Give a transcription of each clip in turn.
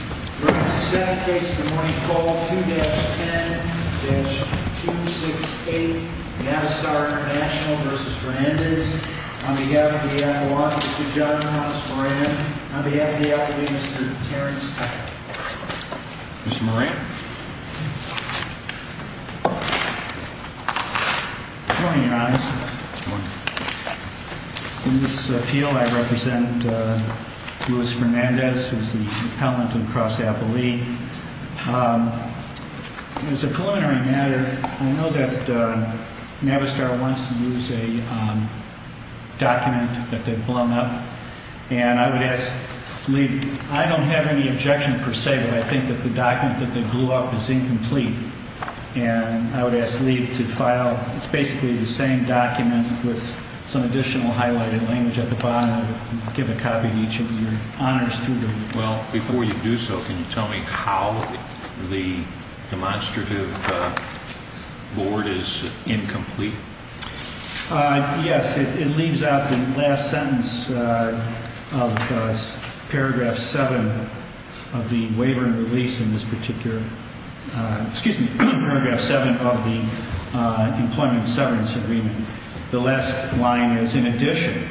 Your Honor, this is the second case of the morning, call 2-10-268, The Anistar International v. Fernandez. On behalf of the Iowans, Mr. John Thomas Moran. On behalf of the Iowans, Mr. Terence Cutler. Mr. Moran. Good morning, Your Honor. Good morning. In this appeal, I represent Louis Fernandez, who is the appellant to the cross-appellee. As a preliminary matter, I know that Navistar wants to use a document that they've blown up. And I would ask Lee, I don't have any objection per se, but I think that the document that they blew up is incomplete. And I would ask Lee to file, it's basically the same document with some additional highlighted language at the bottom. I'll give a copy to each of your honors students. Well, before you do so, can you tell me how the demonstrative board is incomplete? Yes, it leaves out the last sentence of paragraph 7 of the waiver and release in this particular, excuse me, paragraph 7 of the employment severance agreement. The last line is, in addition,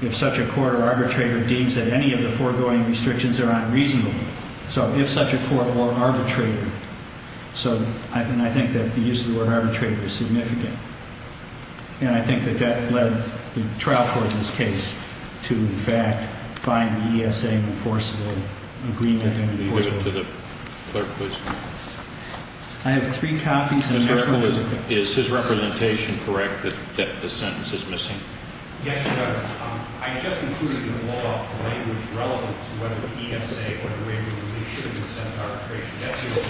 if such a court or arbitrator deems that any of the foregoing restrictions are unreasonable. So, if such a court or arbitrator, and I think that the use of the word arbitrator is significant. And I think that that led the trial court in this case to, in fact, find the ESA enforceable agreement. Will you give it to the clerk, please? I have three copies. Is his representation correct that the sentence is missing? Yes, Your Honor. I just included in the law the language relevant to whether the ESA or the waiver was issued in the Senate arbitration.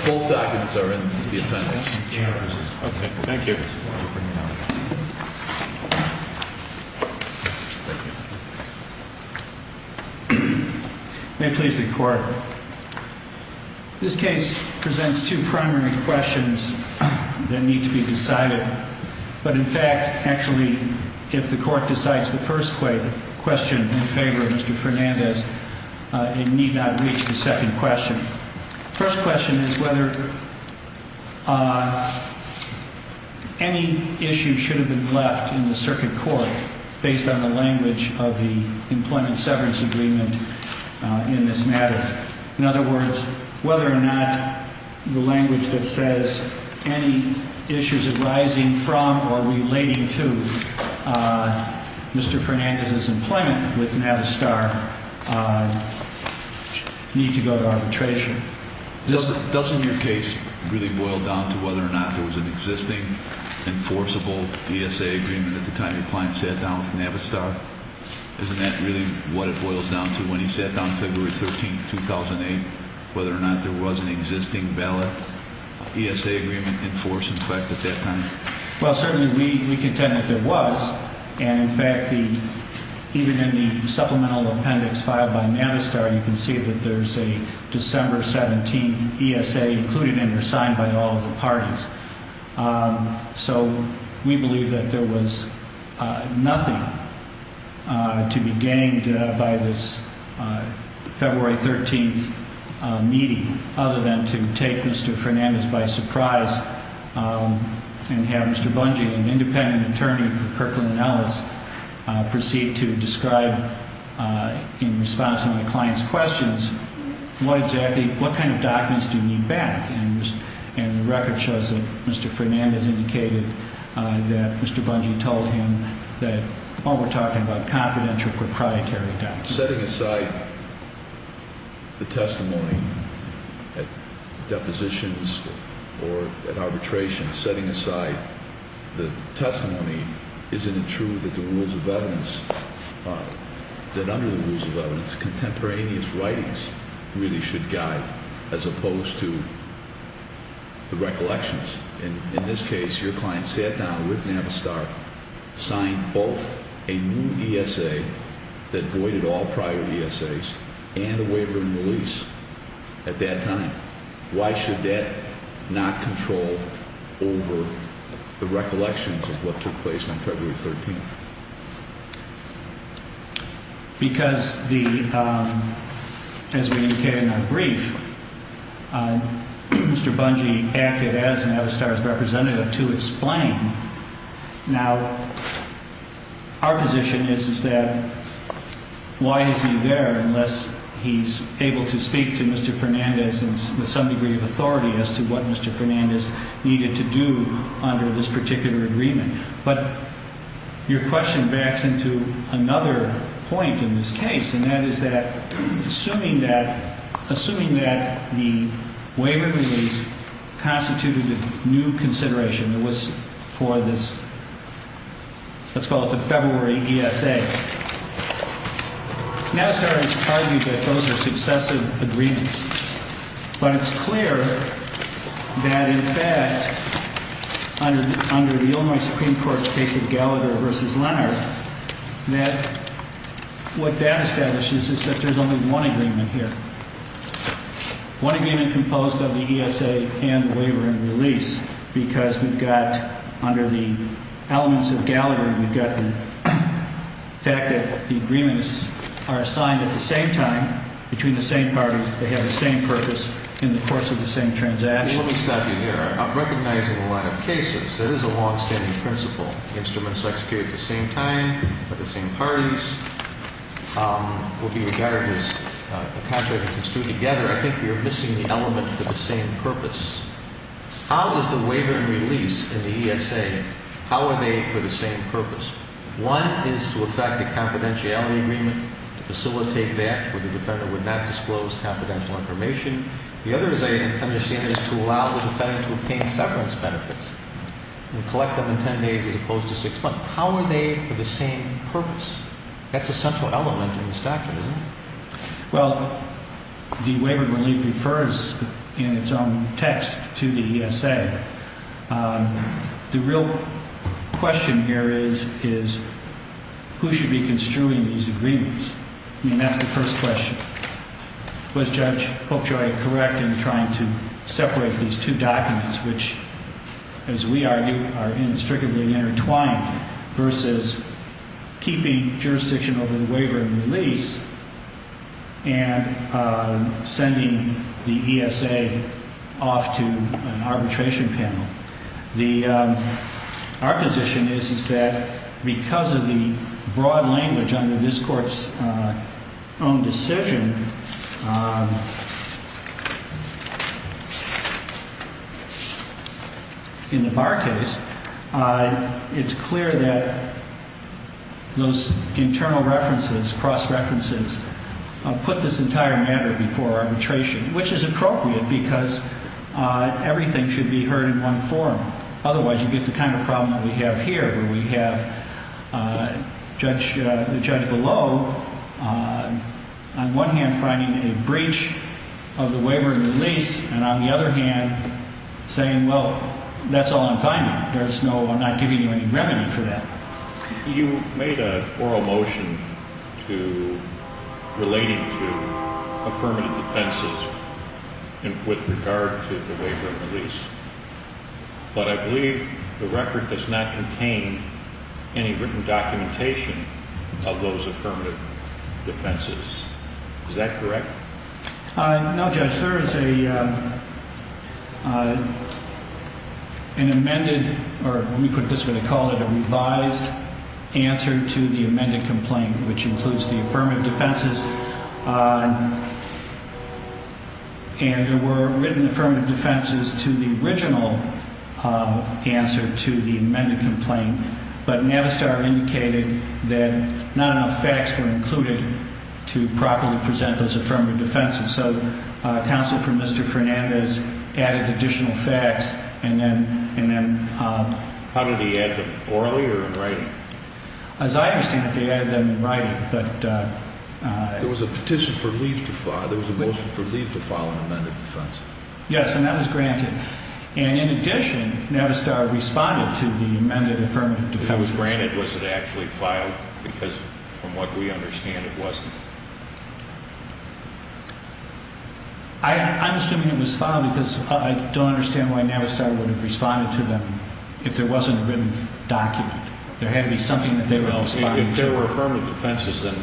Both documents are in the appendix. Okay. Thank you. May it please the court. This case presents two primary questions that need to be decided. But, in fact, actually, if the court decides the first question in favor of Mr. Fernandez, it need not reach the second question. The first question is whether any issue should have been left in the circuit court based on the language of the employment severance agreement in this matter. In other words, whether or not the language that says any issues arising from or relating to Mr. Fernandez's employment with Navistar need to go to arbitration. Doesn't your case really boil down to whether or not there was an existing enforceable ESA agreement at the time your client sat down with Navistar? Isn't that really what it boils down to when he sat down February 13, 2008, whether or not there was an existing ballot ESA agreement enforced in effect at that time? Well, certainly we contend that there was. And, in fact, even in the supplemental appendix filed by Navistar, you can see that there's a December 17 ESA included and resigned by all of the parties. So we believe that there was nothing to be gained by this February 13 meeting other than to take Mr. Fernandez by surprise and have Mr. Bungie, an independent attorney for Kirkland & Ellis, proceed to describe in response to my client's questions, what exactly, what kind of documents do you need back? And the record shows that Mr. Fernandez indicated that Mr. Bungie told him that, while we're talking about confidential, proprietary documents. Setting aside the testimony at depositions or at arbitration, setting aside the testimony, isn't it true that the rules of evidence, that under the rules of evidence, contemporaneous writings really should guide as opposed to the recollections? In this case, your client sat down with Navistar, signed both a new ESA that voided all prior ESAs and a waiver and release at that time. Why should that not control over the recollections of what took place on February 13th? Because the, as we indicated in our brief, Mr. Bungie acted as Navistar's representative to explain. Now, our position is, is that why is he there unless he's able to speak to Mr. Fernandez with some degree of authority as to what Mr. Fernandez needed to do under this particular agreement? But your question backs into another point in this case, and that is that, assuming that, assuming that the waiver and release constituted a new consideration that was for this, let's call it the February ESA, Navistar has argued that those are successive agreements. But it's clear that in fact, under the, under the Illinois Supreme Court's case of Gallagher versus Leonard, that what that establishes is that there's only one agreement here. One agreement composed of the ESA and the waiver and release because we've got, under the elements of Gallagher, we've got the fact that the agreements are assigned at the same time between the same parties. They have the same purpose in the course of the same transaction. Mr. Bungie, let me stop you there. Recognizing a lot of cases, that is a longstanding principle. Instruments executed at the same time, by the same parties, will be regarded as a contract that can stew together. I think we are missing the element for the same purpose. How is the waiver and release in the ESA, how are they for the same purpose? One is to effect a confidentiality agreement to facilitate that where the defendant would not disclose confidential information. The other, as I understand it, is to allow the defendant to obtain severance benefits and collect them in ten days as opposed to six months. How are they for the same purpose? That's a central element in this document, isn't it? Well, the waiver and release refers in its own text to the ESA. The real question here is, who should be construing these agreements? I mean, that's the first question. Was Judge Popejoy correct in trying to separate these two documents, which, as we argue, are inextricably intertwined, versus keeping jurisdiction over the waiver and release and sending the ESA off to an arbitration panel? Our position is that because of the broad language under this Court's own decision in the Barr case, it's clear that those internal references, cross-references, put this entire matter before arbitration, which is appropriate because everything should be heard in one forum. Otherwise, you get the kind of problem that we have here, where we have the judge below, on one hand, finding a breach of the waiver and release, and on the other hand, saying, well, that's all I'm finding. There's no, I'm not giving you any remedy for that. You made an oral motion relating to affirmative defenses with regard to the waiver and release, but I believe the record does not contain any written documentation of those affirmative defenses. Is that correct? No, Judge. There is an amended, or let me put this the way they call it, a revised answer to the amended complaint, which includes the affirmative defenses. And there were written affirmative defenses to the original answer to the amended complaint, but Navistar indicated that not enough facts were included to properly present those affirmative defenses. So counsel for Mr. Fernandez added additional facts, and then, and then. How did he add them? Orally or in writing? As I understand it, they added them in writing, but. There was a petition for leave to file, there was a motion for leave to file an amended defense. Yes, and that was granted. And in addition, Navistar responded to the amended affirmative defenses. It was granted. Was it actually filed? Because from what we understand, it wasn't. I'm assuming it was filed because I don't understand why Navistar would have responded to them if there wasn't a written document. There had to be something that they would have responded to. If there were affirmative defenses, then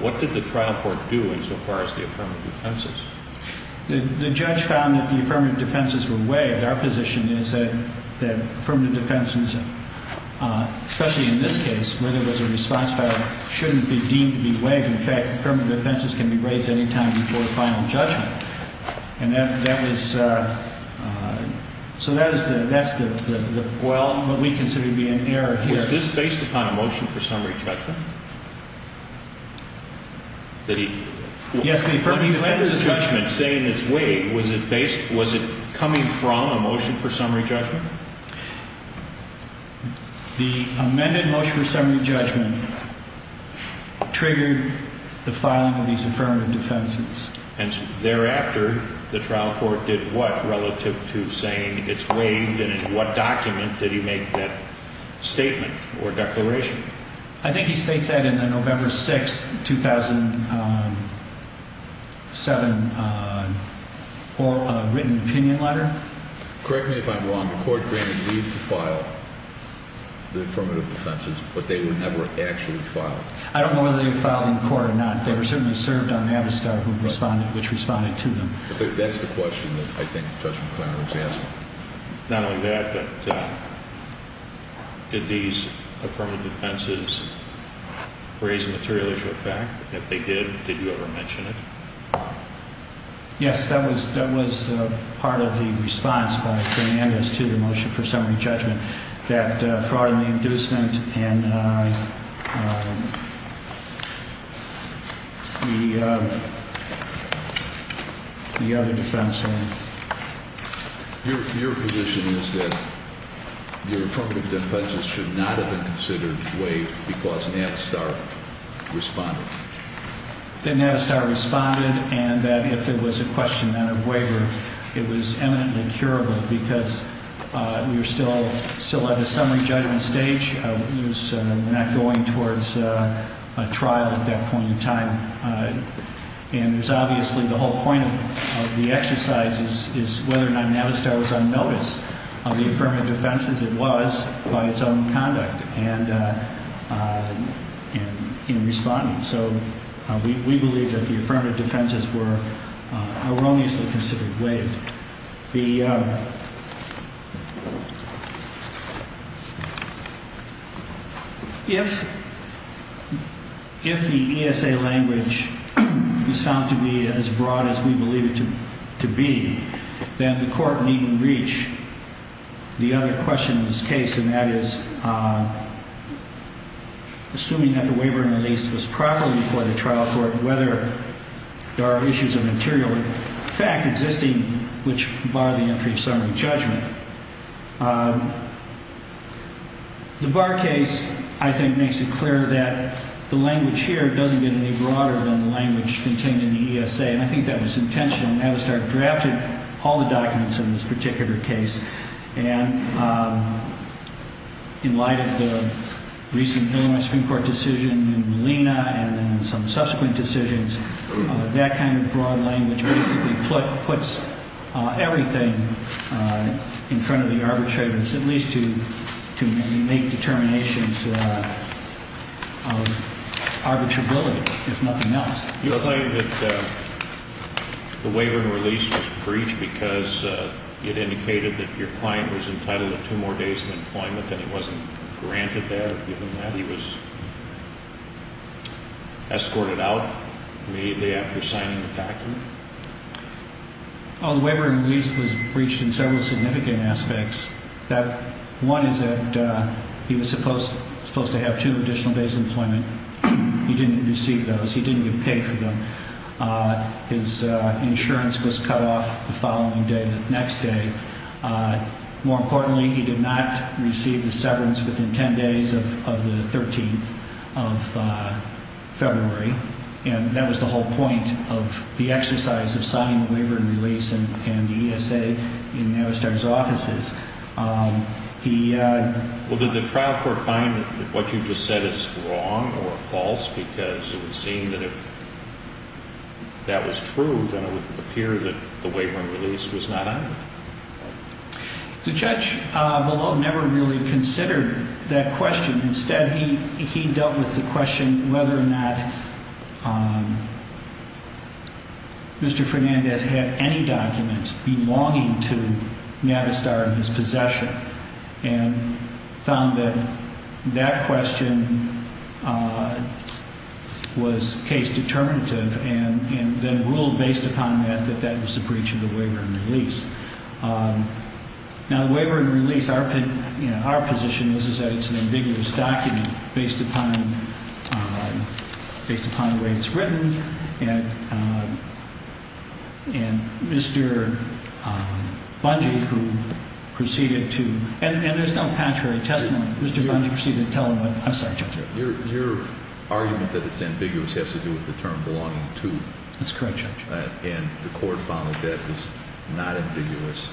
what did the trial court do insofar as the affirmative defenses? The judge found that the affirmative defenses were waived. Our position is that affirmative defenses, especially in this case, where there was a response file, shouldn't be deemed to be waived. In fact, affirmative defenses can be raised any time before the final judgment. And that was, so that is the, that's the, well, what we consider to be an error here. Was this based upon a motion for summary judgment? Yes, the affirmative defense. The motion for summary judgment saying it's waived, was it based, was it coming from a motion for summary judgment? The amended motion for summary judgment triggered the filing of these affirmative defenses. And thereafter, the trial court did what relative to saying it's waived and in what document did he make that statement or declaration? I think he states that in the November 6, 2007, written opinion letter. Correct me if I'm wrong, the court granted leave to file the affirmative defenses, but they were never actually filed. I don't know whether they were filed in court or not. They were certainly served on Avistar, which responded to them. That's the question that I think Judge McClaren was asking. Not only that, but did these affirmative defenses raise a material issue of fact? If they did, did you ever mention it? Yes, that was, that was part of the response by Hernandez to the motion for summary judgment. Your position is that the affirmative defenses should not have been considered waived because Navistar responded? That Navistar responded and that if there was a question of waiver, it was eminently curable because we were still at the summary judgment stage. We were not going towards a trial at that point in time. And there's obviously the whole point of the exercise is whether or not Navistar was on notice of the affirmative defenses. It was by its own conduct and in responding. So we believe that the affirmative defenses were erroneously considered waived. If the ESA language is found to be as broad as we believe it to be, then the court needn't reach the other question in this case. And that is assuming that the waiver in the lease was properly reported to trial court and whether there are issues of material fact existing which bar the entry of summary judgment. The Barr case, I think, makes it clear that the language here doesn't get any broader than the language contained in the ESA. And I think that was intentional. And Navistar drafted all the documents in this particular case and in light of the recent Illinois Supreme Court decision in Molina and then some subsequent decisions, that kind of broad language basically puts everything in front of the arbitrators, at least to make determinations of arbitrability, if nothing else. You're saying that the waiver in the lease was breached because it indicated that your client was entitled to two more days of employment and it wasn't granted there? He was escorted out immediately after signing the document? The waiver in the lease was breached in several significant aspects. One is that he was supposed to have two additional days of employment. He didn't receive those. He didn't get paid for them. His insurance was cut off the following day, the next day. More importantly, he did not receive the severance within 10 days of the 13th of February. And that was the whole point of the exercise of signing the waiver in the lease and the ESA in Navistar's offices. Well, did the trial court find that what you just said is wrong or false? Because it would seem that if that was true, then it would appear that the waiver in the lease was not on it. The judge below never really considered that question. Instead, he dealt with the question whether or not Mr. Fernandez had any documents belonging to Navistar in his possession and found that that question was case determinative and then ruled based upon that that that was a breach of the waiver in the lease. Now, the waiver in the lease, our position is that it's an ambiguous document based upon the way it's written. And Mr. Bungie, who proceeded to – and there's no contrary testimony. Mr. Bungie proceeded to tell him what – I'm sorry, Judge. Your argument that it's ambiguous has to do with the term belonging to. That's correct, Judge. And the court found that that was not ambiguous.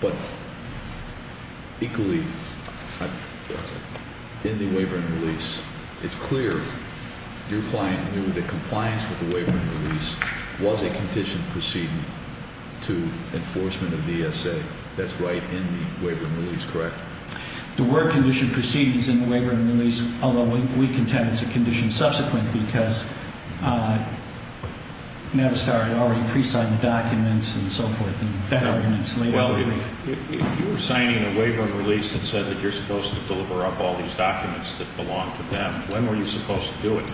But equally, in the waiver in the lease, it's clear your client knew that compliance with the waiver in the lease was a conditioned proceeding to enforcement of the ESA. That's right in the waiver in the lease, correct? There were conditioned proceedings in the waiver in the lease, although we contend it's a condition subsequent because Navistar had already pre-signed the documents and so forth. Well, if you were signing a waiver in the lease that said that you're supposed to deliver up all these documents that belong to them, when were you supposed to do it?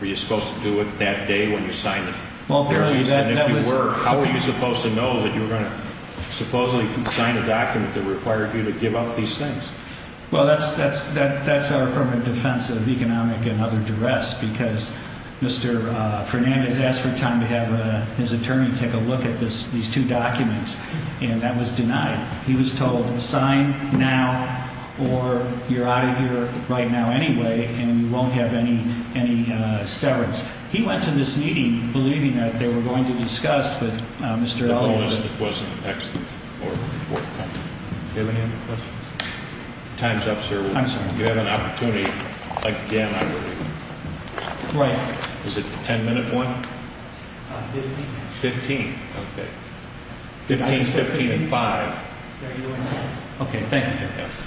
Were you supposed to do it that day when you signed it? How were you supposed to know that you were going to supposedly sign a document that required you to give up these things? Well, that's our affirmative defense of economic and other duress because Mr. Fernandez asked for time to have his attorney take a look at these two documents, and that was denied. He was told, sign now or you're out of here right now anyway and you won't have any severance. He went to this meeting believing that they were going to discuss with Mr. Elgin. It wasn't the next or the fourth time. Do you have any other questions? Time's up, sir. I'm sorry. If you have an opportunity again, I would. Right. Is it the ten-minute one? Fifteen minutes. Fifteen, okay. Fifteen, fifteen, and five. There you go. Okay, thank you. Yes.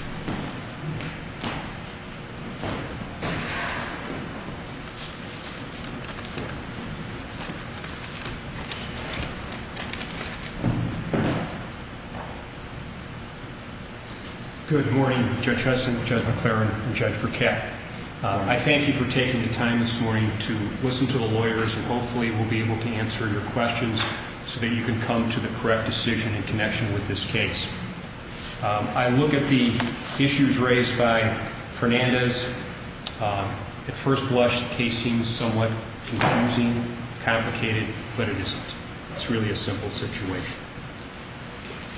Good morning, Judge Henson, Judge McClaren, and Judge Burkett. I thank you for taking the time this morning to listen to the lawyers, and hopefully we'll be able to answer your questions so that you can come to the correct decision in connection with this case. I look at the issues raised by Fernandez. At first blush, the case seems somewhat confusing, complicated, but it isn't. It's really a simple situation.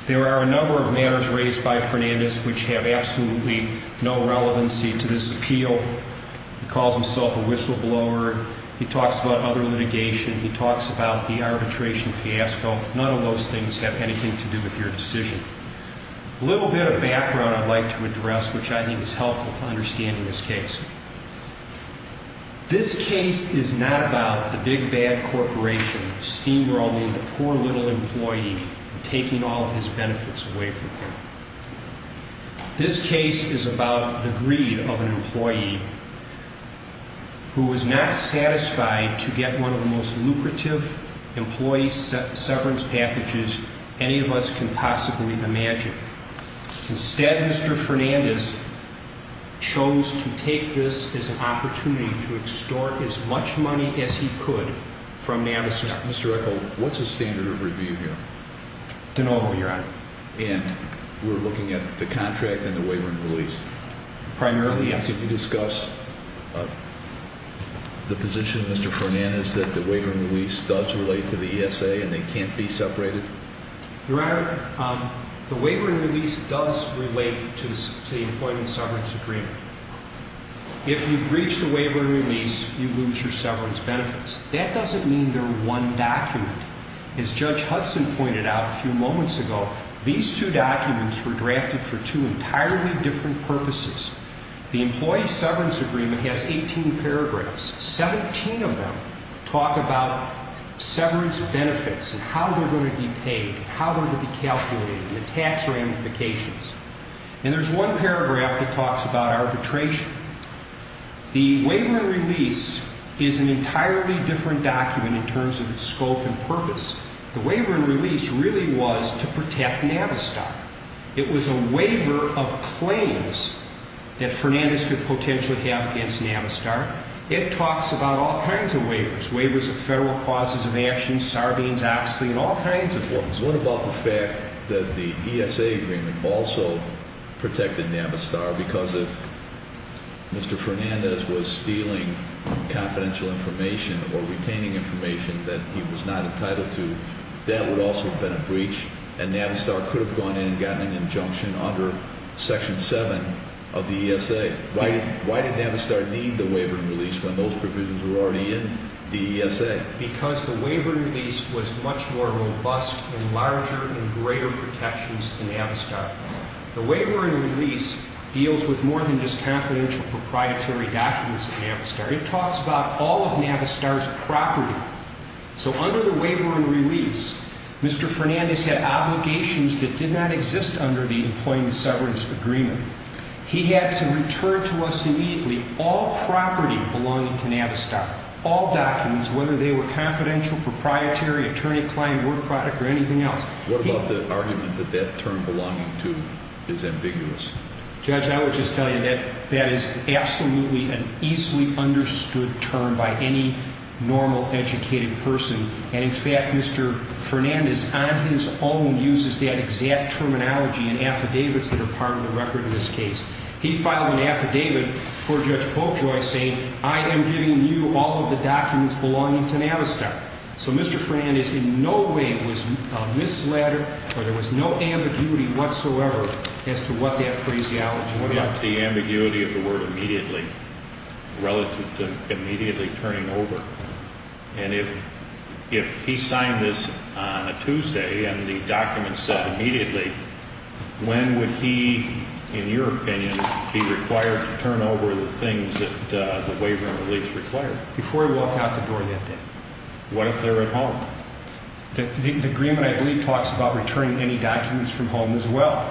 There are a number of matters raised by Fernandez which have absolutely no relevancy to this appeal. He calls himself a whistleblower. He talks about other litigation. He talks about the arbitration fiasco. None of those things have anything to do with your decision. A little bit of background I'd like to address, which I think is helpful to understanding this case. This case is not about the big, bad corporation steamrolling the poor little employee and taking all of his benefits away from him. This case is about the greed of an employee who was not satisfied to get one of the most lucrative employee severance packages any of us can possibly imagine. Instead, Mr. Fernandez chose to take this as an opportunity to extort as much money as he could from Navistar. Mr. Echol, what's the standard of review here? De novo, Your Honor. And we're looking at the contract and the waiver and release. Primarily, yes. Can you discuss the position, Mr. Fernandez, that the waiver and release does relate to the ESA and they can't be separated? Your Honor, the waiver and release does relate to the employment severance agreement. If you breach the waiver and release, you lose your severance benefits. That doesn't mean they're one document. As Judge Hudson pointed out a few moments ago, these two documents were drafted for two entirely different purposes. The employee severance agreement has 18 paragraphs. Seventeen of them talk about severance benefits and how they're going to be paid and how they're going to be calculated and the tax ramifications. And there's one paragraph that talks about arbitration. The waiver and release is an entirely different document in terms of its scope and purpose. The waiver and release really was to protect Navistar. It was a waiver of claims that Fernandez could potentially have against Navistar. It talks about all kinds of waivers, waivers of federal clauses of action, Sarbanes-Oxley, and all kinds of things. What about the fact that the ESA agreement also protected Navistar because if Mr. Fernandez was stealing confidential information or retaining information that he was not entitled to, that would also have been a breach and Navistar could have gone in and gotten an injunction under Section 7 of the ESA. Why did Navistar need the waiver and release when those provisions were already in the ESA? Because the waiver and release was much more robust and larger and greater protections to Navistar. The waiver and release deals with more than just confidential proprietary documents of Navistar. It talks about all of Navistar's property. So under the waiver and release, Mr. Fernandez had obligations that did not exist under the Employment Severance Agreement. He had to return to us immediately all property belonging to Navistar, all documents, whether they were confidential, proprietary, attorney-client, word product, or anything else. What about the argument that that term belonging to is ambiguous? Judge, I would just tell you that that is absolutely an easily understood term by any normal educated person. And in fact, Mr. Fernandez on his own uses that exact terminology in affidavits that are part of the record in this case. He filed an affidavit for Judge Polkjoy saying, I am giving you all of the documents belonging to Navistar. So Mr. Fernandez in no way was misled or there was no ambiguity whatsoever as to what that phraseology was. I doubt the ambiguity of the word immediately relative to immediately turning over. And if he signed this on a Tuesday and the document said immediately, when would he, in your opinion, be required to turn over the things that the waiver and release required? Before he walked out the door that day. What if they're at home? The agreement, I believe, talks about returning any documents from home as well.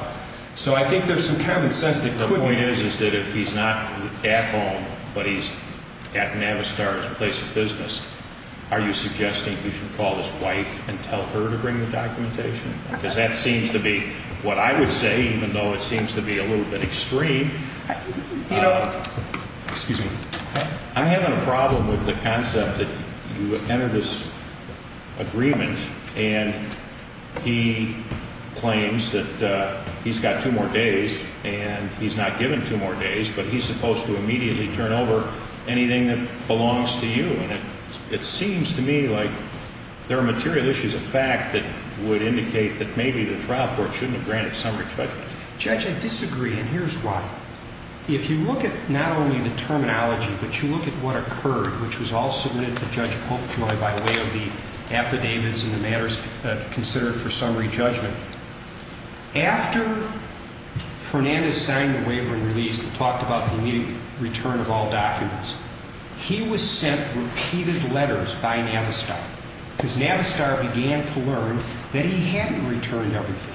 So I think there's some common sense that could be. The point is, is that if he's not at home, but he's at Navistar's place of business, are you suggesting he should call his wife and tell her to bring the documentation? Because that seems to be what I would say, even though it seems to be a little bit extreme. Excuse me. I'm having a problem with the concept that you would enter this agreement and he claims that he's got two more days and he's not given two more days, but he's supposed to immediately turn over anything that belongs to you. And it seems to me like there are material issues of fact that would indicate that maybe the trial court shouldn't have granted summary judgment. Judge, I disagree, and here's why. If you look at not only the terminology, but you look at what occurred, which was all submitted to Judge Polkjoy by way of the affidavits and the matters considered for summary judgment, after Fernandez signed the waiver and release that talked about the immediate return of all documents, he was sent repeated letters by Navistar. Because Navistar began to learn that he hadn't returned everything.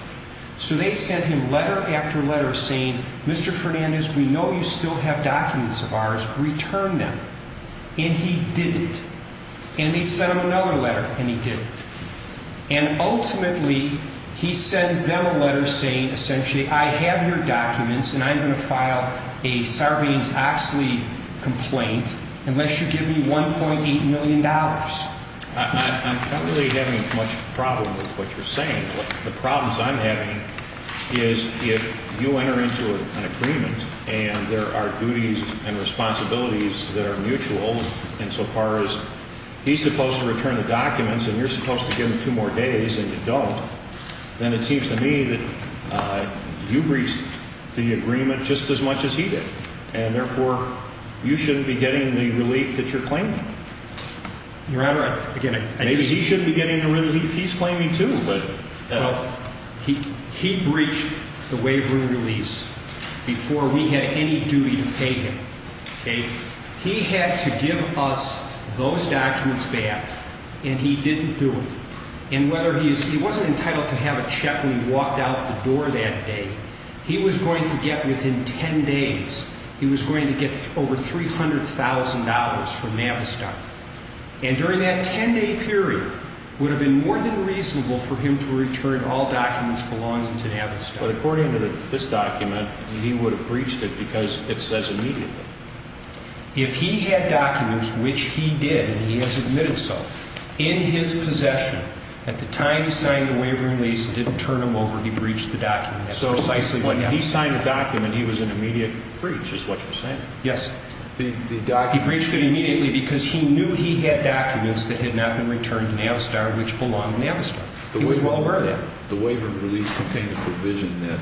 So they sent him letter after letter saying, Mr. Fernandez, we know you still have documents of ours. Return them. And he didn't. And they sent him another letter and he didn't. And ultimately, he sends them a letter saying essentially, I have your documents and I'm going to file a Sarbanes-Oxley complaint unless you give me $1.8 million. I'm not really having much problem with what you're saying. The problems I'm having is if you enter into an agreement and there are duties and responsibilities that are mutual insofar as he's supposed to return the documents and you're supposed to give him two more days and you don't, then it seems to me that you breached the agreement just as much as he did. And therefore, you shouldn't be getting the relief that you're claiming. Your Honor, again, I just... Maybe he shouldn't be getting the relief he's claiming too, but... Well, he breached the waiver and release before we had any duty to pay him. Okay? He had to give us those documents back and he didn't do it. He wasn't entitled to have a check when he walked out the door that day. He was going to get, within 10 days, he was going to get over $300,000 from Navistar. And during that 10-day period, it would have been more than reasonable for him to return all documents belonging to Navistar. But according to this document, he would have breached it because it says immediately. If he had documents, which he did and he has admitted so, in his possession, at the time he signed the waiver and release and didn't turn them over, he breached the document. So precisely when he signed the document, he was in immediate breach, is what you're saying? Yes. He breached it immediately because he knew he had documents that had not been returned to Navistar which belonged to Navistar. He was well aware of that. The waiver and release contain the provision that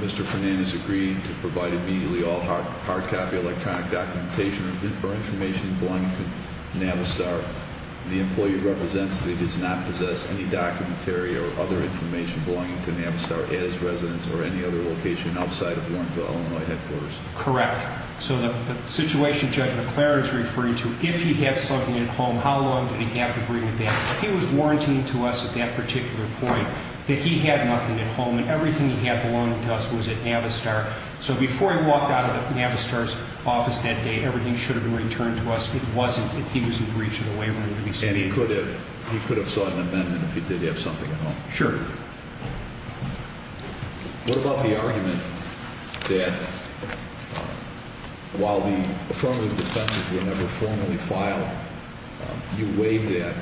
Mr. Fernandez agreed to provide immediately all hard copy electronic documentation or information belonging to Navistar. The employee represents that he does not possess any documentary or other information belonging to Navistar, at his residence or any other location outside of the Lawrenceville, Illinois headquarters. Correct. So the situation Judge McLaren is referring to, if he had something at home, how long did he have to bring it back? He was warranting to us at that particular point that he had nothing at home and everything he had belonging to us was at Navistar. So before he walked out of Navistar's office that day, everything should have been returned to us. It wasn't. He was in breach of the waiver and release. And he could have sought an amendment if he did have something at home? Sure. What about the argument that while the affirmative defenses were never formally filed, you waived that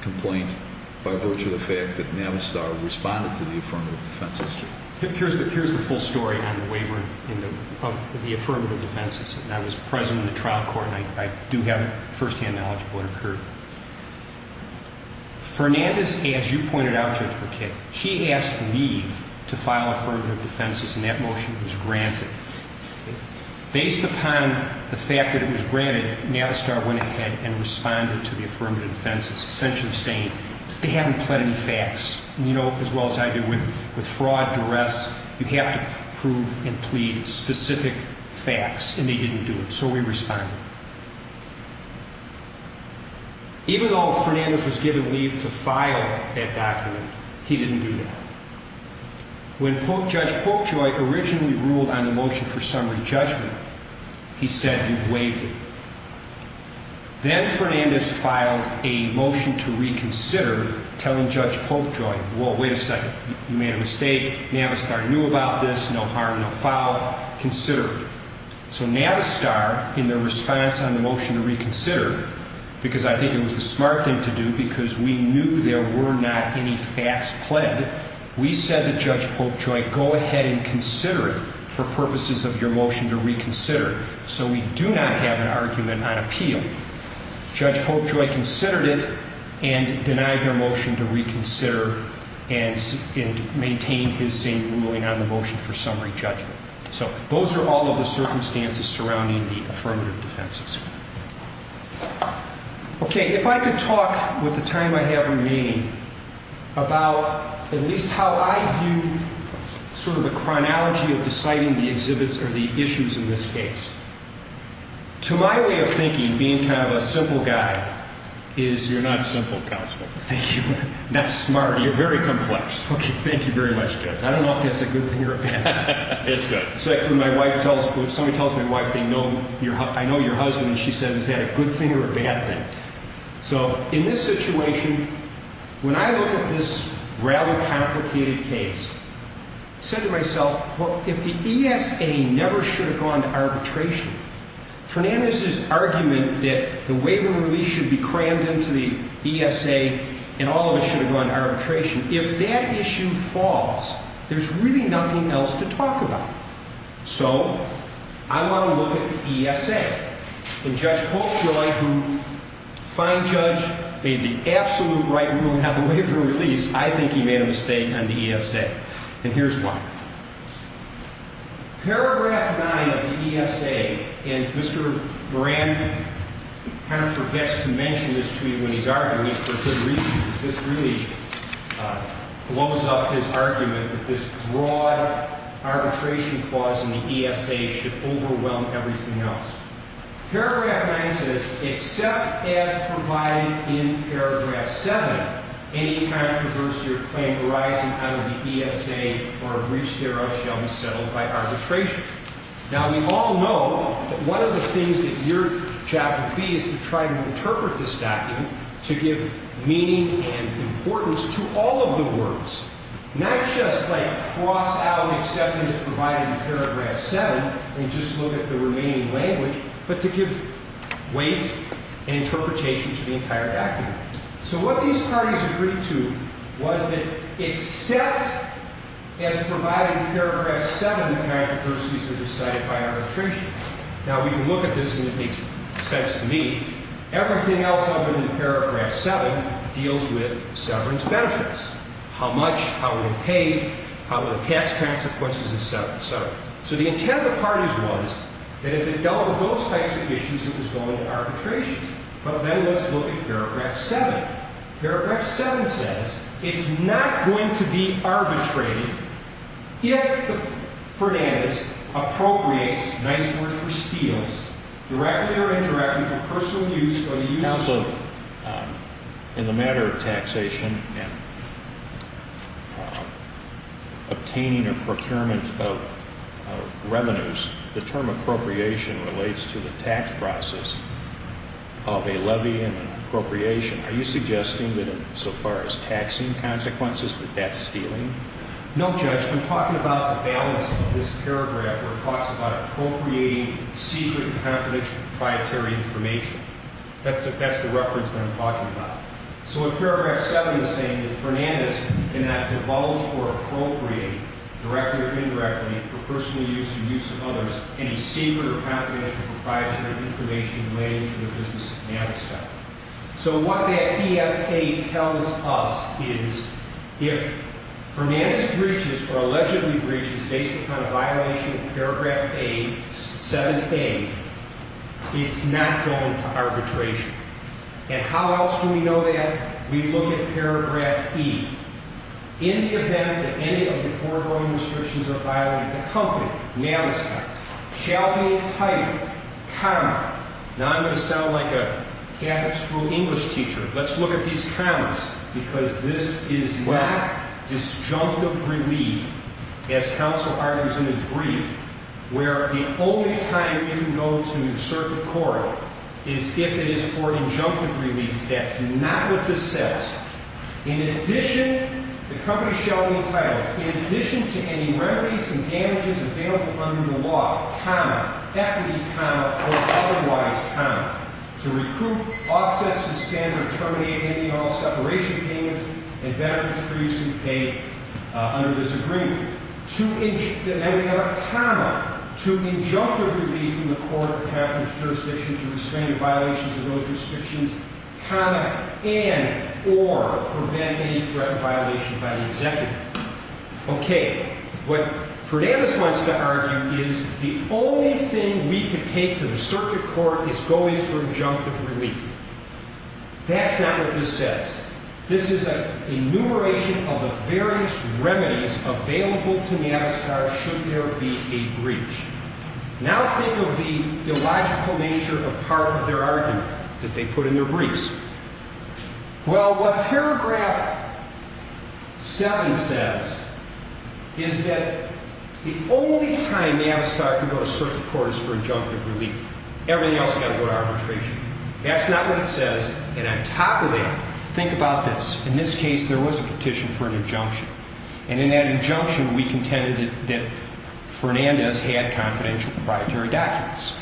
complaint by virtue of the fact that Navistar responded to the affirmative defenses? Here's the full story on the waiver of the affirmative defenses. I was present in the trial court and I do have firsthand knowledge of what occurred. Fernandez, as you pointed out, Judge McKay, he asked me to file affirmative defenses, and that motion was granted. Based upon the fact that it was granted, Navistar went ahead and responded to the affirmative defenses, essentially saying that they haven't pled any facts. And you know as well as I do, with fraud, duress, you have to prove and plead specific facts, and they didn't do it. So we responded. Even though Fernandez was given leave to file that document, he didn't do that. When Judge Polkjoy originally ruled on the motion for summary judgment, he said, you've waived it. Then Fernandez filed a motion to reconsider, telling Judge Polkjoy, whoa, wait a second, you made a mistake. Navistar knew about this, no harm, no foul, consider it. So Navistar, in their response on the motion to reconsider, because I think it was the smart thing to do because we knew there were not any facts pled, we said to Judge Polkjoy, go ahead and consider it for purposes of your motion to reconsider. So we do not have an argument on appeal. Judge Polkjoy considered it and denied their motion to reconsider and maintained his same ruling on the motion for summary judgment. So those are all of the circumstances surrounding the affirmative defenses. Okay. If I could talk with the time I have remaining about at least how I view sort of the chronology of deciding the exhibits or the issues in this case. To my way of thinking, being kind of a simple guy, is... You're not simple, counsel. Thank you. Not smart. You're very complex. Okay. Thank you very much, Judge. I don't know if that's a good thing or a bad thing. It's good. It's like when somebody tells my wife, I know your husband, and she says, is that a good thing or a bad thing? So in this situation, when I look at this rather complicated case, I said to myself, well, if the ESA never should have gone to arbitration, Fernandez's argument that the waive and release should be crammed into the ESA and all of it should have gone to arbitration, if that issue falls, there's really nothing else to talk about. So I want to look at the ESA. And Judge Polkjoy, who, fine judge, made the absolute right ruling on the waive and release, I think he made a mistake on the ESA. And here's why. Paragraph 9 of the ESA, and Mr. Moran kind of forgets to mention this to you when he's arguing, for good reason. This really blows up his argument that this broad arbitration clause in the ESA should overwhelm everything else. Paragraph 9 says, except as provided in paragraph 7, any controversy or claim arising out of the ESA or a breach thereof shall be settled by arbitration. Now, we all know that one of the things that your job would be is to try to interpret this document to give meaning and importance to all of the words, not just like cross out acceptance provided in paragraph 7 and just look at the remaining language, but to give weight and interpretation to the entire document. So what these parties agreed to was that except as provided in paragraph 7, controversies are decided by arbitration. Now, we can look at this and it makes sense to me. Everything else other than paragraph 7 deals with severance benefits. How much? How are we paid? How are the tax consequences? Et cetera, et cetera. So the intent of the parties was that if it dealt with those types of issues, it was going to arbitration. But then let's look at paragraph 7. Paragraph 7 says it's not going to be arbitrated if Fernandez appropriates, nice word for steals, directly or indirectly from personal use or the use of the vote. In the matter of taxation and obtaining or procurement of revenues, the term appropriation relates to the tax process of a levy and appropriation. Are you suggesting that so far as taxing consequences, that that's stealing? No, Judge. I'm talking about the balance of this paragraph where it talks about appropriating secret confidential proprietary information. That's the reference that I'm talking about. So in paragraph 7 it's saying that Fernandez cannot divulge or appropriate directly or indirectly for personal use or use of others any secret or confidential proprietary information related to the business of manifesto. So what that ESA tells us is if Fernandez breaches or allegedly breaches based upon a violation of paragraph 7A, it's not going to arbitration. And how else do we know that? We look at paragraph E. In the event that any of the foregoing restrictions are violated, the company, manifesto, shall be entitled, comma, now I'm going to sound like a Catholic school English teacher. Let's look at these commas because this is not disjunctive relief, as counsel argues in his brief, where the only time it can go to certain court is if it is for injunctive release. That's not what this says. In addition, the company shall be entitled, in addition to any remedies and damages available under the law, comma, that could be comma or otherwise comma, to recruit, offset, suspend, or terminate any and all separation payments and benefits previously paid under this agreement. Now we have a comma, to injunctive relief in the court of capital jurisdiction to restrain the violations of those restrictions, comma, and or prevent any threat of violation by the executive. OK. What Fernandez wants to argue is the only thing we could take to the circuit court is going for injunctive relief. That's not what this says. This is an enumeration of the various remedies available to Navistar should there be a breach. Now think of the illogical nature of part of their argument that they put in their briefs. Well, what paragraph 7 says is that the only time Navistar can go to circuit court is for injunctive relief. Everything else has got to go to arbitration. That's not what it says. And on top of that, think about this. In this case, there was a petition for an injunction. And in that injunction, we contended that Fernandez had confidential proprietary documents.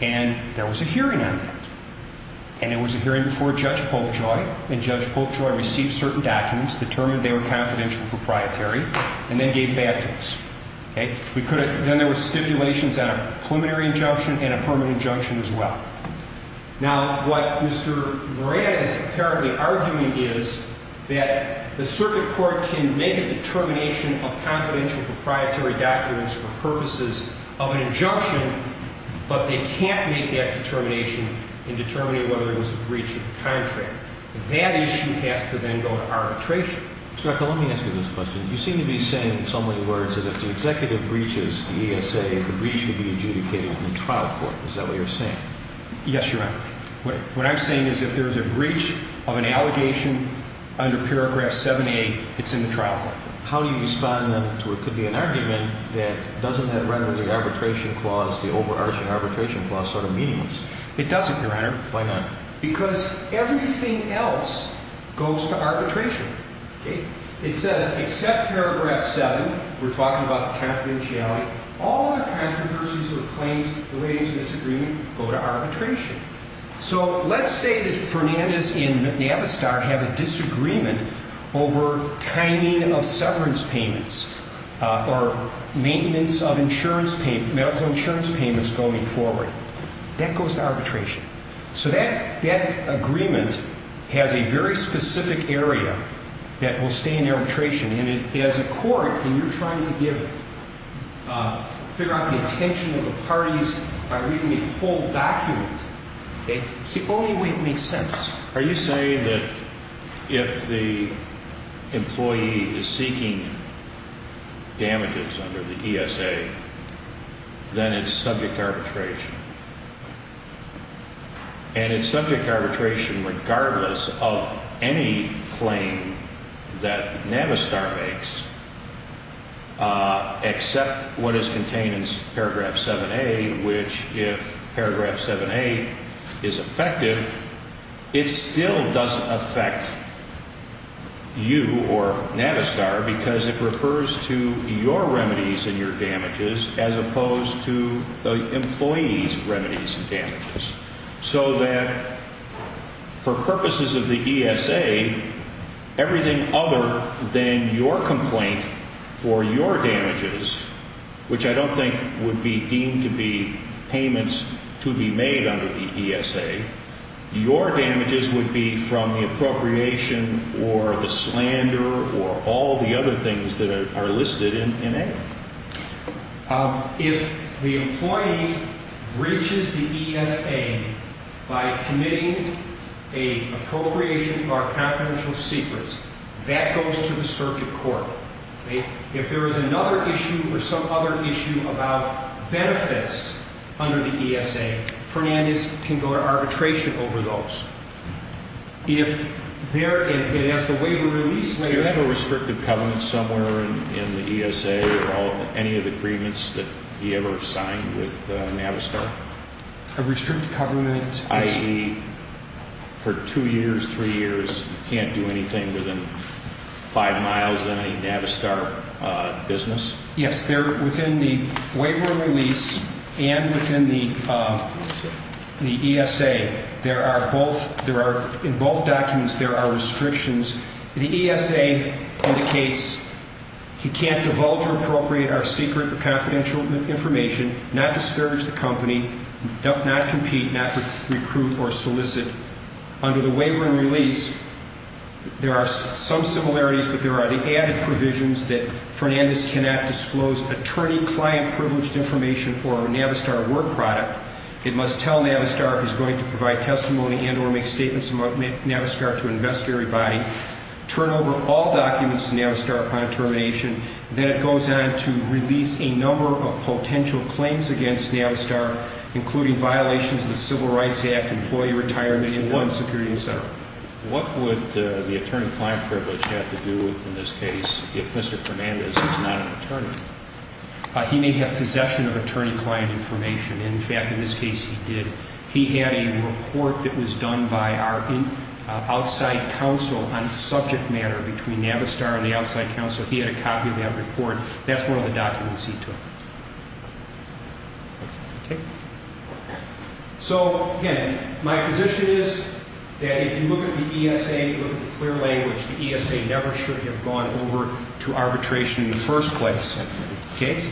And there was a hearing on that. And it was a hearing before Judge Polkjoy. And Judge Polkjoy received certain documents, determined they were confidential proprietary, and then gave bad things. OK. Now, what Mr. Moran is apparently arguing is that the circuit court can make a determination of confidential proprietary documents for purposes of an injunction, but they can't make that determination in determining whether there was a breach of the contract. And that issue has to then go to arbitration. Mr. Ekel, let me ask you this question. You seem to be saying so many words that if the executive breaches the ESA, the breach would be adjudicated in the trial court. Is that what you're saying? Yes, Your Honor. What I'm saying is if there's a breach of an allegation under paragraph 7A, it's in the trial court. How do you respond, then, to what could be an argument that doesn't have rhetoric arbitration clause, the overarching arbitration clause sort of meaningless? It doesn't, Your Honor. Why not? Because everything else goes to arbitration. OK. It says except paragraph 7, we're talking about confidentiality, all the controversies or claims relating to this agreement go to arbitration. So let's say that Fernandez and Navistar have a disagreement over timing of severance payments or maintenance of medical insurance payments going forward. That goes to arbitration. So that agreement has a very specific area that will stay in arbitration. And as a court, when you're trying to figure out the intention of the parties by reading the full document, it's the only way it makes sense. Are you saying that if the employee is seeking damages under the ESA, then it's subject to arbitration? And it's subject to arbitration regardless of any claim that Navistar makes except what is contained in paragraph 7A, which if paragraph 7A is effective, it still doesn't affect you or Navistar because it refers to your remedies and your damages as opposed to the employee's remedies and damages. So that for purposes of the ESA, everything other than your complaint for your damages, which I don't think would be deemed to be payments to be made under the ESA, your damages would be from the appropriation or the slander or all the other things that are listed in A. If the employee breaches the ESA by committing an appropriation or confidential secrets, that goes to the circuit court. If there is another issue or some other issue about benefits under the ESA, Fernandez can go to arbitration over those. If there is a waiver release... Do you have a restrictive covenant somewhere in the ESA or any of the agreements that he ever signed with Navistar? A restricted covenant? I.e., for two years, three years, he can't do anything within five miles of any Navistar business? Yes, within the waiver and release and within the ESA. In both documents, there are restrictions. The ESA indicates he can't divulge or appropriate our secret or confidential information, not discourage the company, not compete, not recruit or solicit. Under the waiver and release, there are some similarities, but there are the added provisions that Fernandez cannot disclose attorney-client-privileged information for a Navistar work product. It must tell Navistar if he's going to provide testimony and or make statements about Navistar to an investigatory body. Turn over all documents to Navistar upon termination. Then it goes on to release a number of potential claims against Navistar, including violations of the Civil Rights Act, employee retirement, and human security, etc. What would the attorney-client-privileged have to do in this case if Mr. Fernandez is not an attorney? He may have possession of attorney-client information. In fact, in this case, he did. He had a report that was done by our outside counsel on a subject matter between Navistar and the outside counsel. He had a copy of that report. That's one of the documents he took. Okay? So, again, my position is that if you look at the ESA, if you look at the clear language, the ESA never should have gone over to arbitration in the first place. Okay?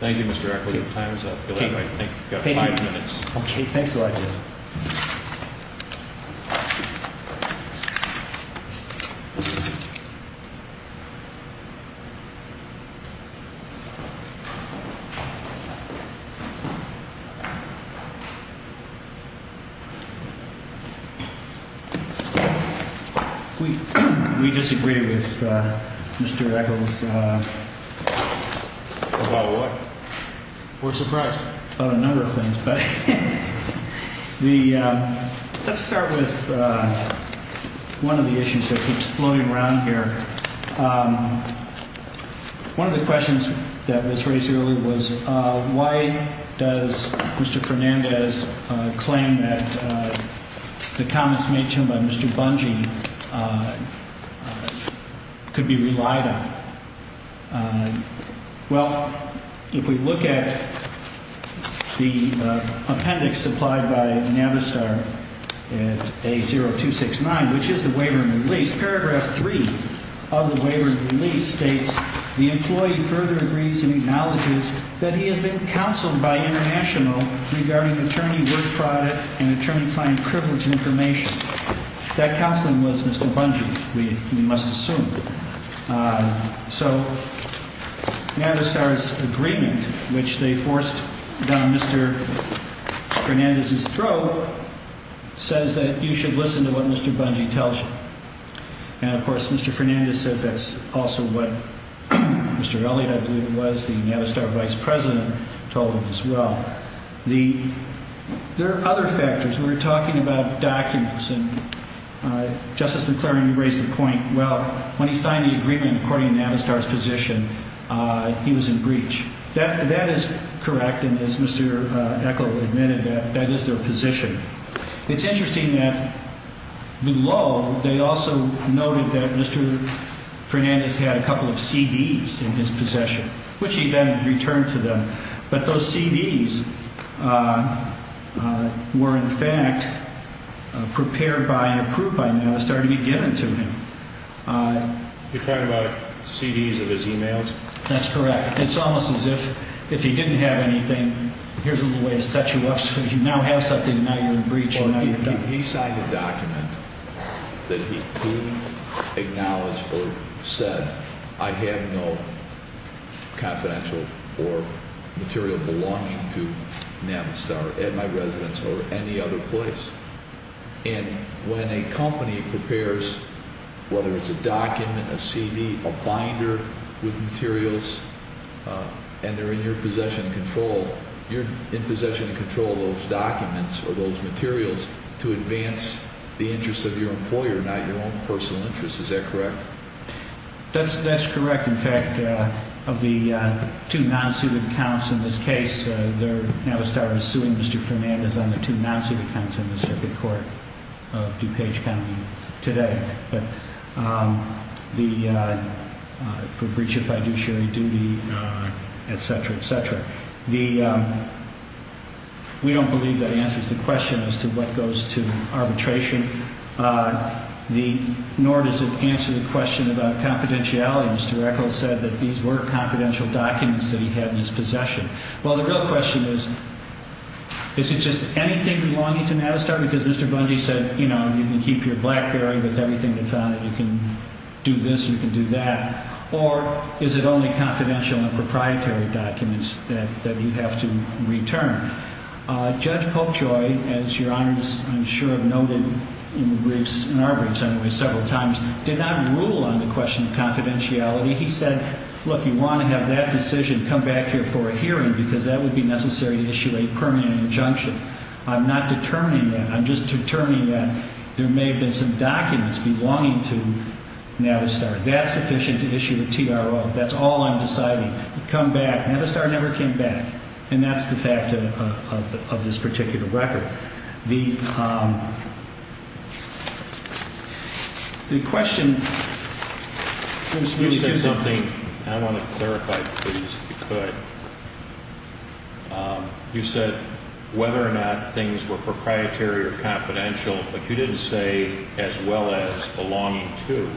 Thank you, Mr. Echols. Your time is up. You'll have, I think, five minutes. Thanks a lot, Jim. We disagree with Mr. Echols. About what? We're surprised. About a number of things. Let's start with one of the issues that keeps floating around here. One of the questions that was raised earlier was why does Mr. Fernandez claim that the comments made to him by Mr. Bungie could be relied on? Well, if we look at the appendix supplied by Navistar at A0269, which is the waiver and release, paragraph three of the waiver and release states, the employee further agrees and acknowledges that he has been counseled by international regarding attorney work product and attorney client privilege information. That counseling was Mr. Bungie, we must assume. So Navistar's agreement, which they forced down Mr. Fernandez's throat, says that you should listen to what Mr. Bungie tells you. And, of course, Mr. Fernandez says that's also what Mr. Elliott, I believe it was, the Navistar vice president, told him as well. There are other factors. We were talking about documents, and Justice McClary, you raised the point, well, when he signed the agreement according to Navistar's position, he was in breach. That is correct, and as Mr. Eckel admitted, that is their position. It's interesting that below they also noted that Mr. Fernandez had a couple of CDs in his possession, which he then returned to them. But those CDs were, in fact, prepared by and approved by Navistar to be given to him. You're talking about CDs of his e-mails? That's correct. It's almost as if if he didn't have anything, here's a little way to set you up so you now have something and now you're in breach. He signed a document that he acknowledged or said, I have no confidential or material belonging to Navistar at my residence or any other place. And when a company prepares, whether it's a document, a CD, a binder with materials, and they're in your possession and control, you're in possession and control of those documents or those materials to advance the interest of your employer, not your own personal interest. Is that correct? That's correct. In fact, of the two non-suited counts in this case, Navistar is suing Mr. Fernandez on the two non-suited counts in the circuit court of DuPage County today for breach of fiduciary duty, etc., etc. We don't believe that answers the question as to what goes to arbitration, nor does it answer the question about confidentiality. Mr. Eccles said that these were confidential documents that he had in his possession. Well, the real question is, is it just anything belonging to Navistar? Because Mr. Bungie said, you know, you can keep your BlackBerry with everything that's on it. You can do this, you can do that. Or is it only confidential and proprietary documents that you have to return? Judge Popejoy, as Your Honors I'm sure have noted in the briefs, in our briefs anyway, several times, did not rule on the question of confidentiality. He said, look, you want to have that decision, come back here for a hearing because that would be necessary to issue a permanent injunction. I'm not determining that. I'm just determining that there may have been some documents belonging to Navistar. That's sufficient to issue a TRO. That's all I'm deciding. Come back. Navistar never came back. And that's the fact of this particular record. The question is, you said something, and I want to clarify, please, if you could. You said whether or not things were proprietary or confidential, but you didn't say as well as belonging to.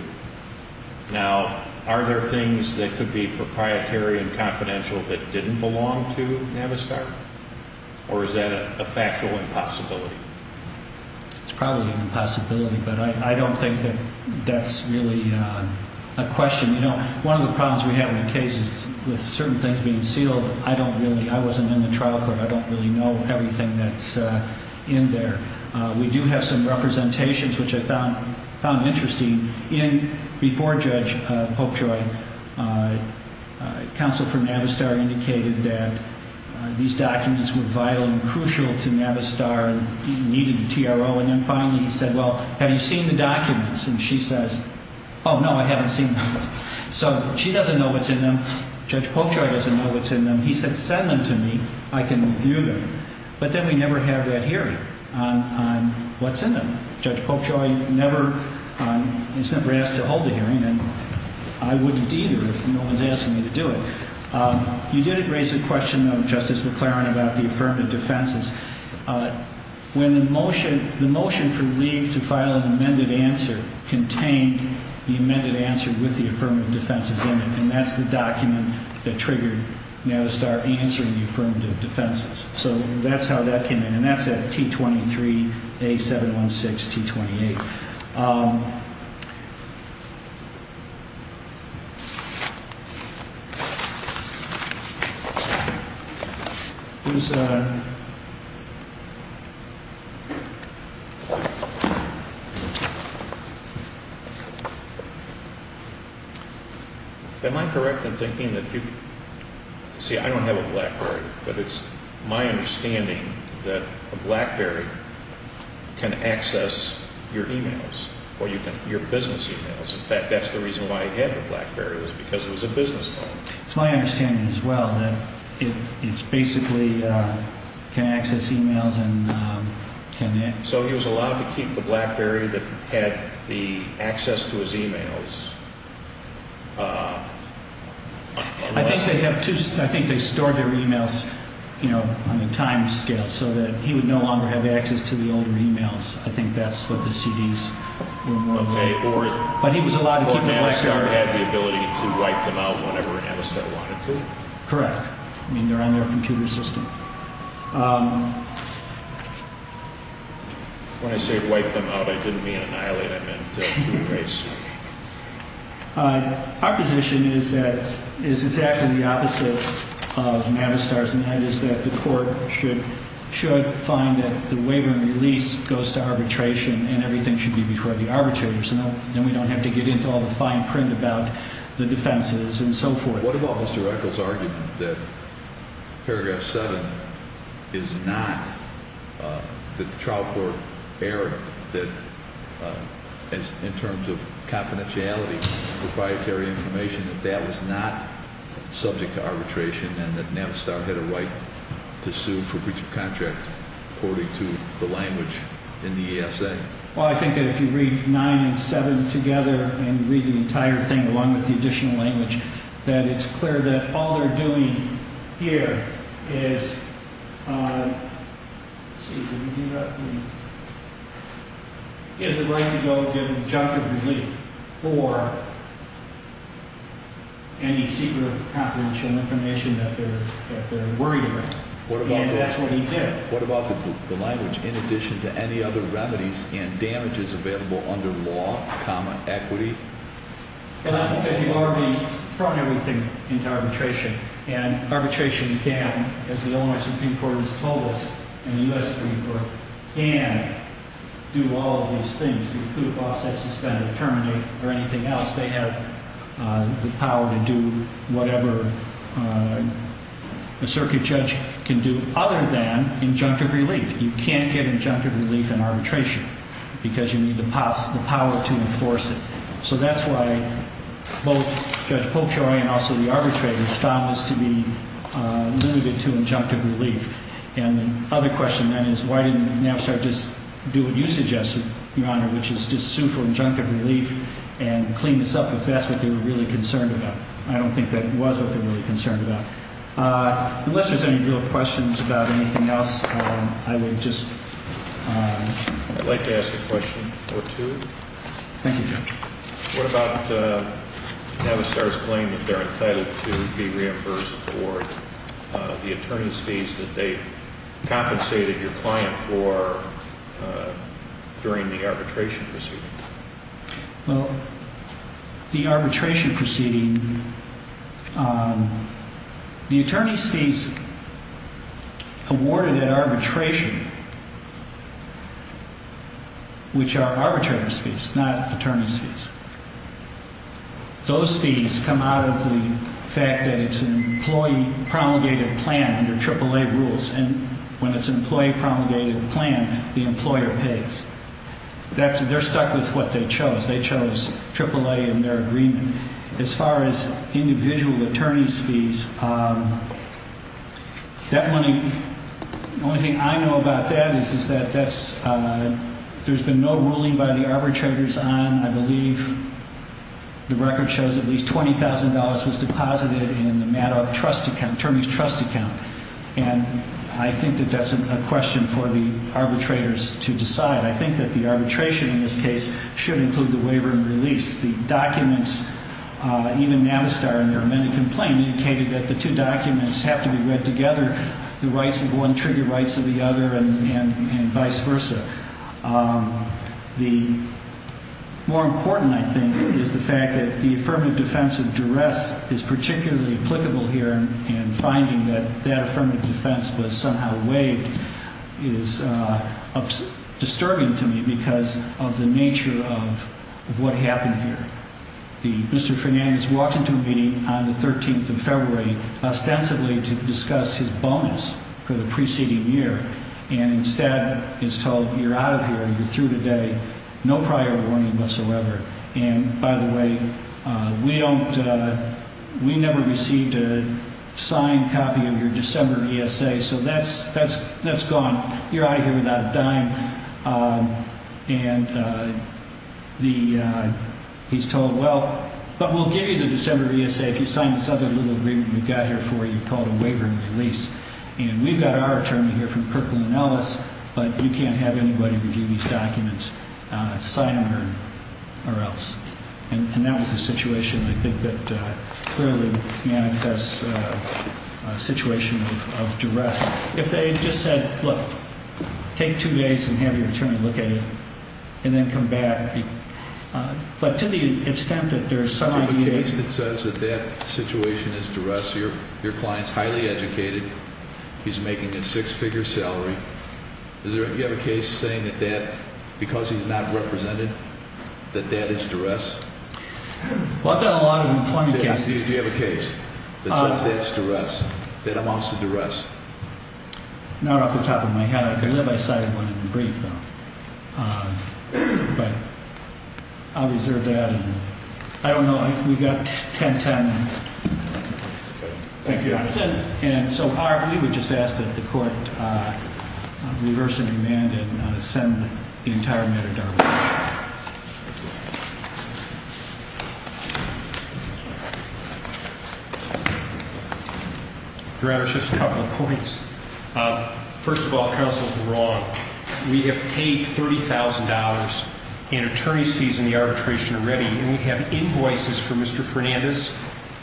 Now, are there things that could be proprietary and confidential that didn't belong to Navistar? Or is that a factual impossibility? It's probably an impossibility, but I don't think that that's really a question. You know, one of the problems we have in cases with certain things being sealed, I don't really, I wasn't in the trial court. I don't really know everything that's in there. We do have some representations, which I found interesting. Before Judge Popejoy, counsel for Navistar indicated that these documents were vital and crucial to Navistar and needed a TRO. And then finally he said, well, have you seen the documents? And she says, oh, no, I haven't seen them. So she doesn't know what's in them. Judge Popejoy doesn't know what's in them. He said, send them to me. I can review them. But then we never have that hearing on what's in them. Judge Popejoy never, he's never asked to hold a hearing, and I wouldn't either if no one's asking me to do it. You did raise a question, though, Justice McLaren, about the affirmative defenses. When the motion, the motion for leave to file an amended answer contained the amended answer with the affirmative defenses in it, and that's the document that triggered Navistar answering the affirmative defenses. So that's how that came in, and that's at T23A716T28. Am I correct in thinking that you, see I don't have a BlackBerry, but it's my understanding that a BlackBerry can access your e-mails or your business e-mails. In fact, that's the reason why he had the BlackBerry was because it was a business phone. It's my understanding as well that it's basically can access e-mails and can. So he was allowed to keep the BlackBerry that had the access to his e-mails. I think they stored their e-mails on the timescale so that he would no longer have access to the older e-mails. I think that's what the CDs were more of. But he was allowed to keep the BlackBerry. Or Navistar had the ability to wipe them out whenever Navistar wanted to? Correct. I mean, they're on their computer system. When I say wipe them out, I didn't mean annihilate them, I meant erase them. Our position is that it's exactly the opposite of Navistar's, and that is that the court should find that the waiver and release goes to arbitration, and everything should be before the arbitrators. Then we don't have to get into all the fine print about the defenses and so forth. What about Mr. Radcliffe's argument that Paragraph 7 is not the trial court error, that in terms of confidentiality, proprietary information, that that was not subject to arbitration, and that Navistar had a right to sue for breach of contract according to the language in the ESA? Well, I think that if you read 9 and 7 together and read the entire thing along with the additional language, that it's clear that all they're doing here is, let's see, did we do that? He has a right to go and get a chunk of relief for any secret confidential information that they're worried about. And that's what he did. What about the language, in addition to any other remedies and damages available under law, comma, equity? Well, that's because you've already thrown everything into arbitration. And arbitration can, as the Illinois Supreme Court has told us and the U.S. Supreme Court, can do all of these things, include a process suspended, terminate, or anything else. They have the power to do whatever a circuit judge can do other than injunctive relief. You can't get injunctive relief in arbitration because you need the power to enforce it. So that's why both Judge Popejoy and also the arbitrators found this to be limited to injunctive relief. And the other question then is, why didn't Navistar just do what you suggested, Your Honor, which is just sue for injunctive relief and clean this up if that's what they were really concerned about? I don't think that was what they were really concerned about. Unless there's any real questions about anything else, I would just like to ask a question or two. Thank you, Judge. What about Navistar's claim that they're entitled to be reimbursed for the attorney's fees that they compensated your client for during the arbitration proceeding? Well, the arbitration proceeding, the attorney's fees awarded at arbitration, which are arbitrator's fees, not attorney's fees, those fees come out of the fact that it's an employee promulgated plan under AAA rules, and when it's an employee promulgated plan, the employer pays. They're stuck with what they chose. They chose AAA in their agreement. As far as individual attorney's fees, the only thing I know about that is that there's been no ruling by the arbitrators on, I believe the record shows at least $20,000 was deposited in the Mattoff attorney's trust account. And I think that that's a question for the arbitrators to decide. I think that the arbitration in this case should include the waiver and release. The documents, even Navistar, and there are many complaints, indicated that the two documents have to be read together. The rights of one trigger rights of the other and vice versa. The more important, I think, is the fact that the affirmative defense of duress is particularly applicable here, and finding that that affirmative defense was somehow waived is disturbing to me because of the nature of what happened here. Mr. Fernandez walked into a meeting on the 13th of February ostensibly to discuss his bonus for the preceding year and instead is told, you're out of here, you're through today, no prior warning whatsoever. And by the way, we never received a signed copy of your December ESA, so that's gone. You're out of here without a dime. And he's told, well, but we'll give you the December ESA if you sign this other little agreement we've got here for you called a waiver and release. And we've got our attorney here from Kirkland & Ellis, but you can't have anybody review these documents, sign them or else. And that was a situation I think that clearly manifests a situation of duress. If they just said, look, take two days and have your attorney look at it and then come back. But to the extent that there's some ideas. Do you have a case that says that that situation is duress? Your client's highly educated. He's making a six-figure salary. Do you have a case saying that because he's not represented that that is duress? Well, I've done a lot of employment cases. Do you have a case that says that's duress, that amounts to duress? Not off the top of my head. I could have cited one in the brief, though. But I'll reserve that. And I don't know. We've got 10-10. Thank you. That's it. And so we would just ask that the court reverse and remand and send the entire matador. Thank you. Your Honor, just a couple of points. First of all, counsel is wrong. We have paid $30,000 in attorney's fees in the arbitration already. And we have invoices for Mr. Fernandez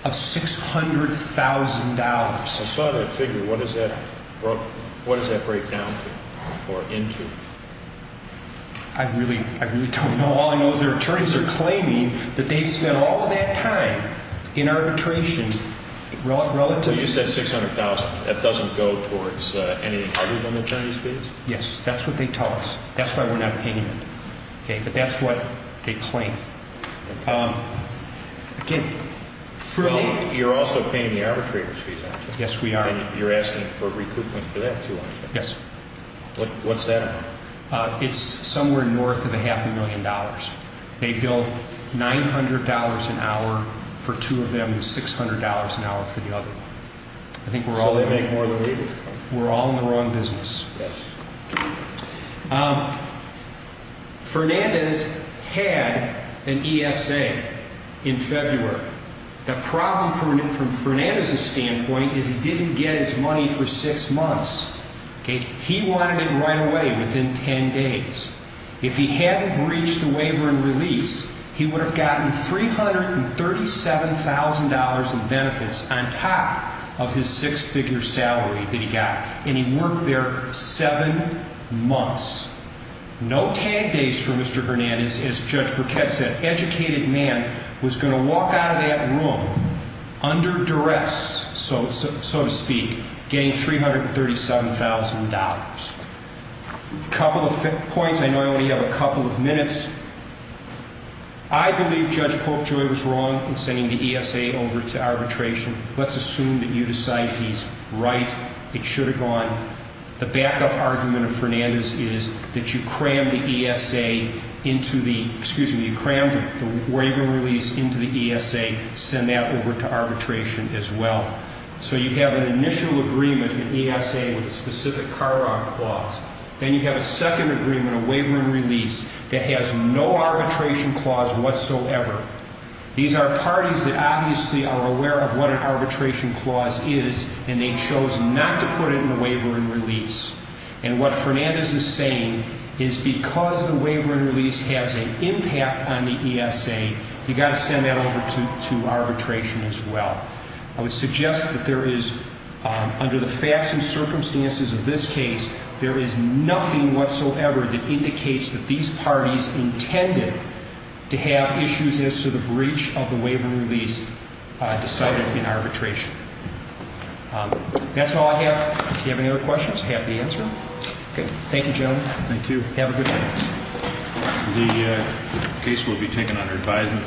of $600,000. I saw that figure. What does that break down to or into? I really don't know. All I know is their attorneys are claiming that they've spent all of that time in arbitration relative to the fees. You said $600,000. That doesn't go towards anything other than attorney's fees? Yes. That's what they tell us. That's why we're not paying it. Okay? But that's what they claim. Again, freely. You're also paying the arbitrator's fees, aren't you? Yes, we are. And you're asking for recoupment for that, too, aren't you? Yes. What's that? It's somewhere north of a half a million dollars. They bill $900 an hour for two of them and $600 an hour for the other one. So they make more than we do. We're all in the wrong business. Yes. Fernandez had an ESA in February. The problem from Fernandez's standpoint is he didn't get his money for six months. He wanted it right away, within ten days. If he hadn't breached the waiver and release, he would have gotten $337,000 in benefits on top of his six-figure salary that he got. And he worked there seven months. No tag days for Mr. Fernandez, as Judge Burkett said. That educated man was going to walk out of that room under duress, so to speak, getting $337,000. A couple of points. I know I only have a couple of minutes. I believe Judge Polkjoy was wrong in sending the ESA over to arbitration. Let's assume that you decide he's right. It should have gone. The backup argument of Fernandez's is that you crammed the waiver and release into the ESA, send that over to arbitration as well. So you have an initial agreement in ESA with a specific CARA clause. Then you have a second agreement, a waiver and release, that has no arbitration clause whatsoever. These are parties that obviously are aware of what an arbitration clause is, and they chose not to put it in the waiver and release. And what Fernandez is saying is because the waiver and release has an impact on the ESA, you've got to send that over to arbitration as well. I would suggest that there is, under the facts and circumstances of this case, there is nothing whatsoever that indicates that these parties intended to have issues as to the breach of the waiver and release decided in arbitration. That's all I have. If you have any other questions, happy to answer them. Okay. Thank you, gentlemen. Thank you. Have a good night. The case will be taken under advisement.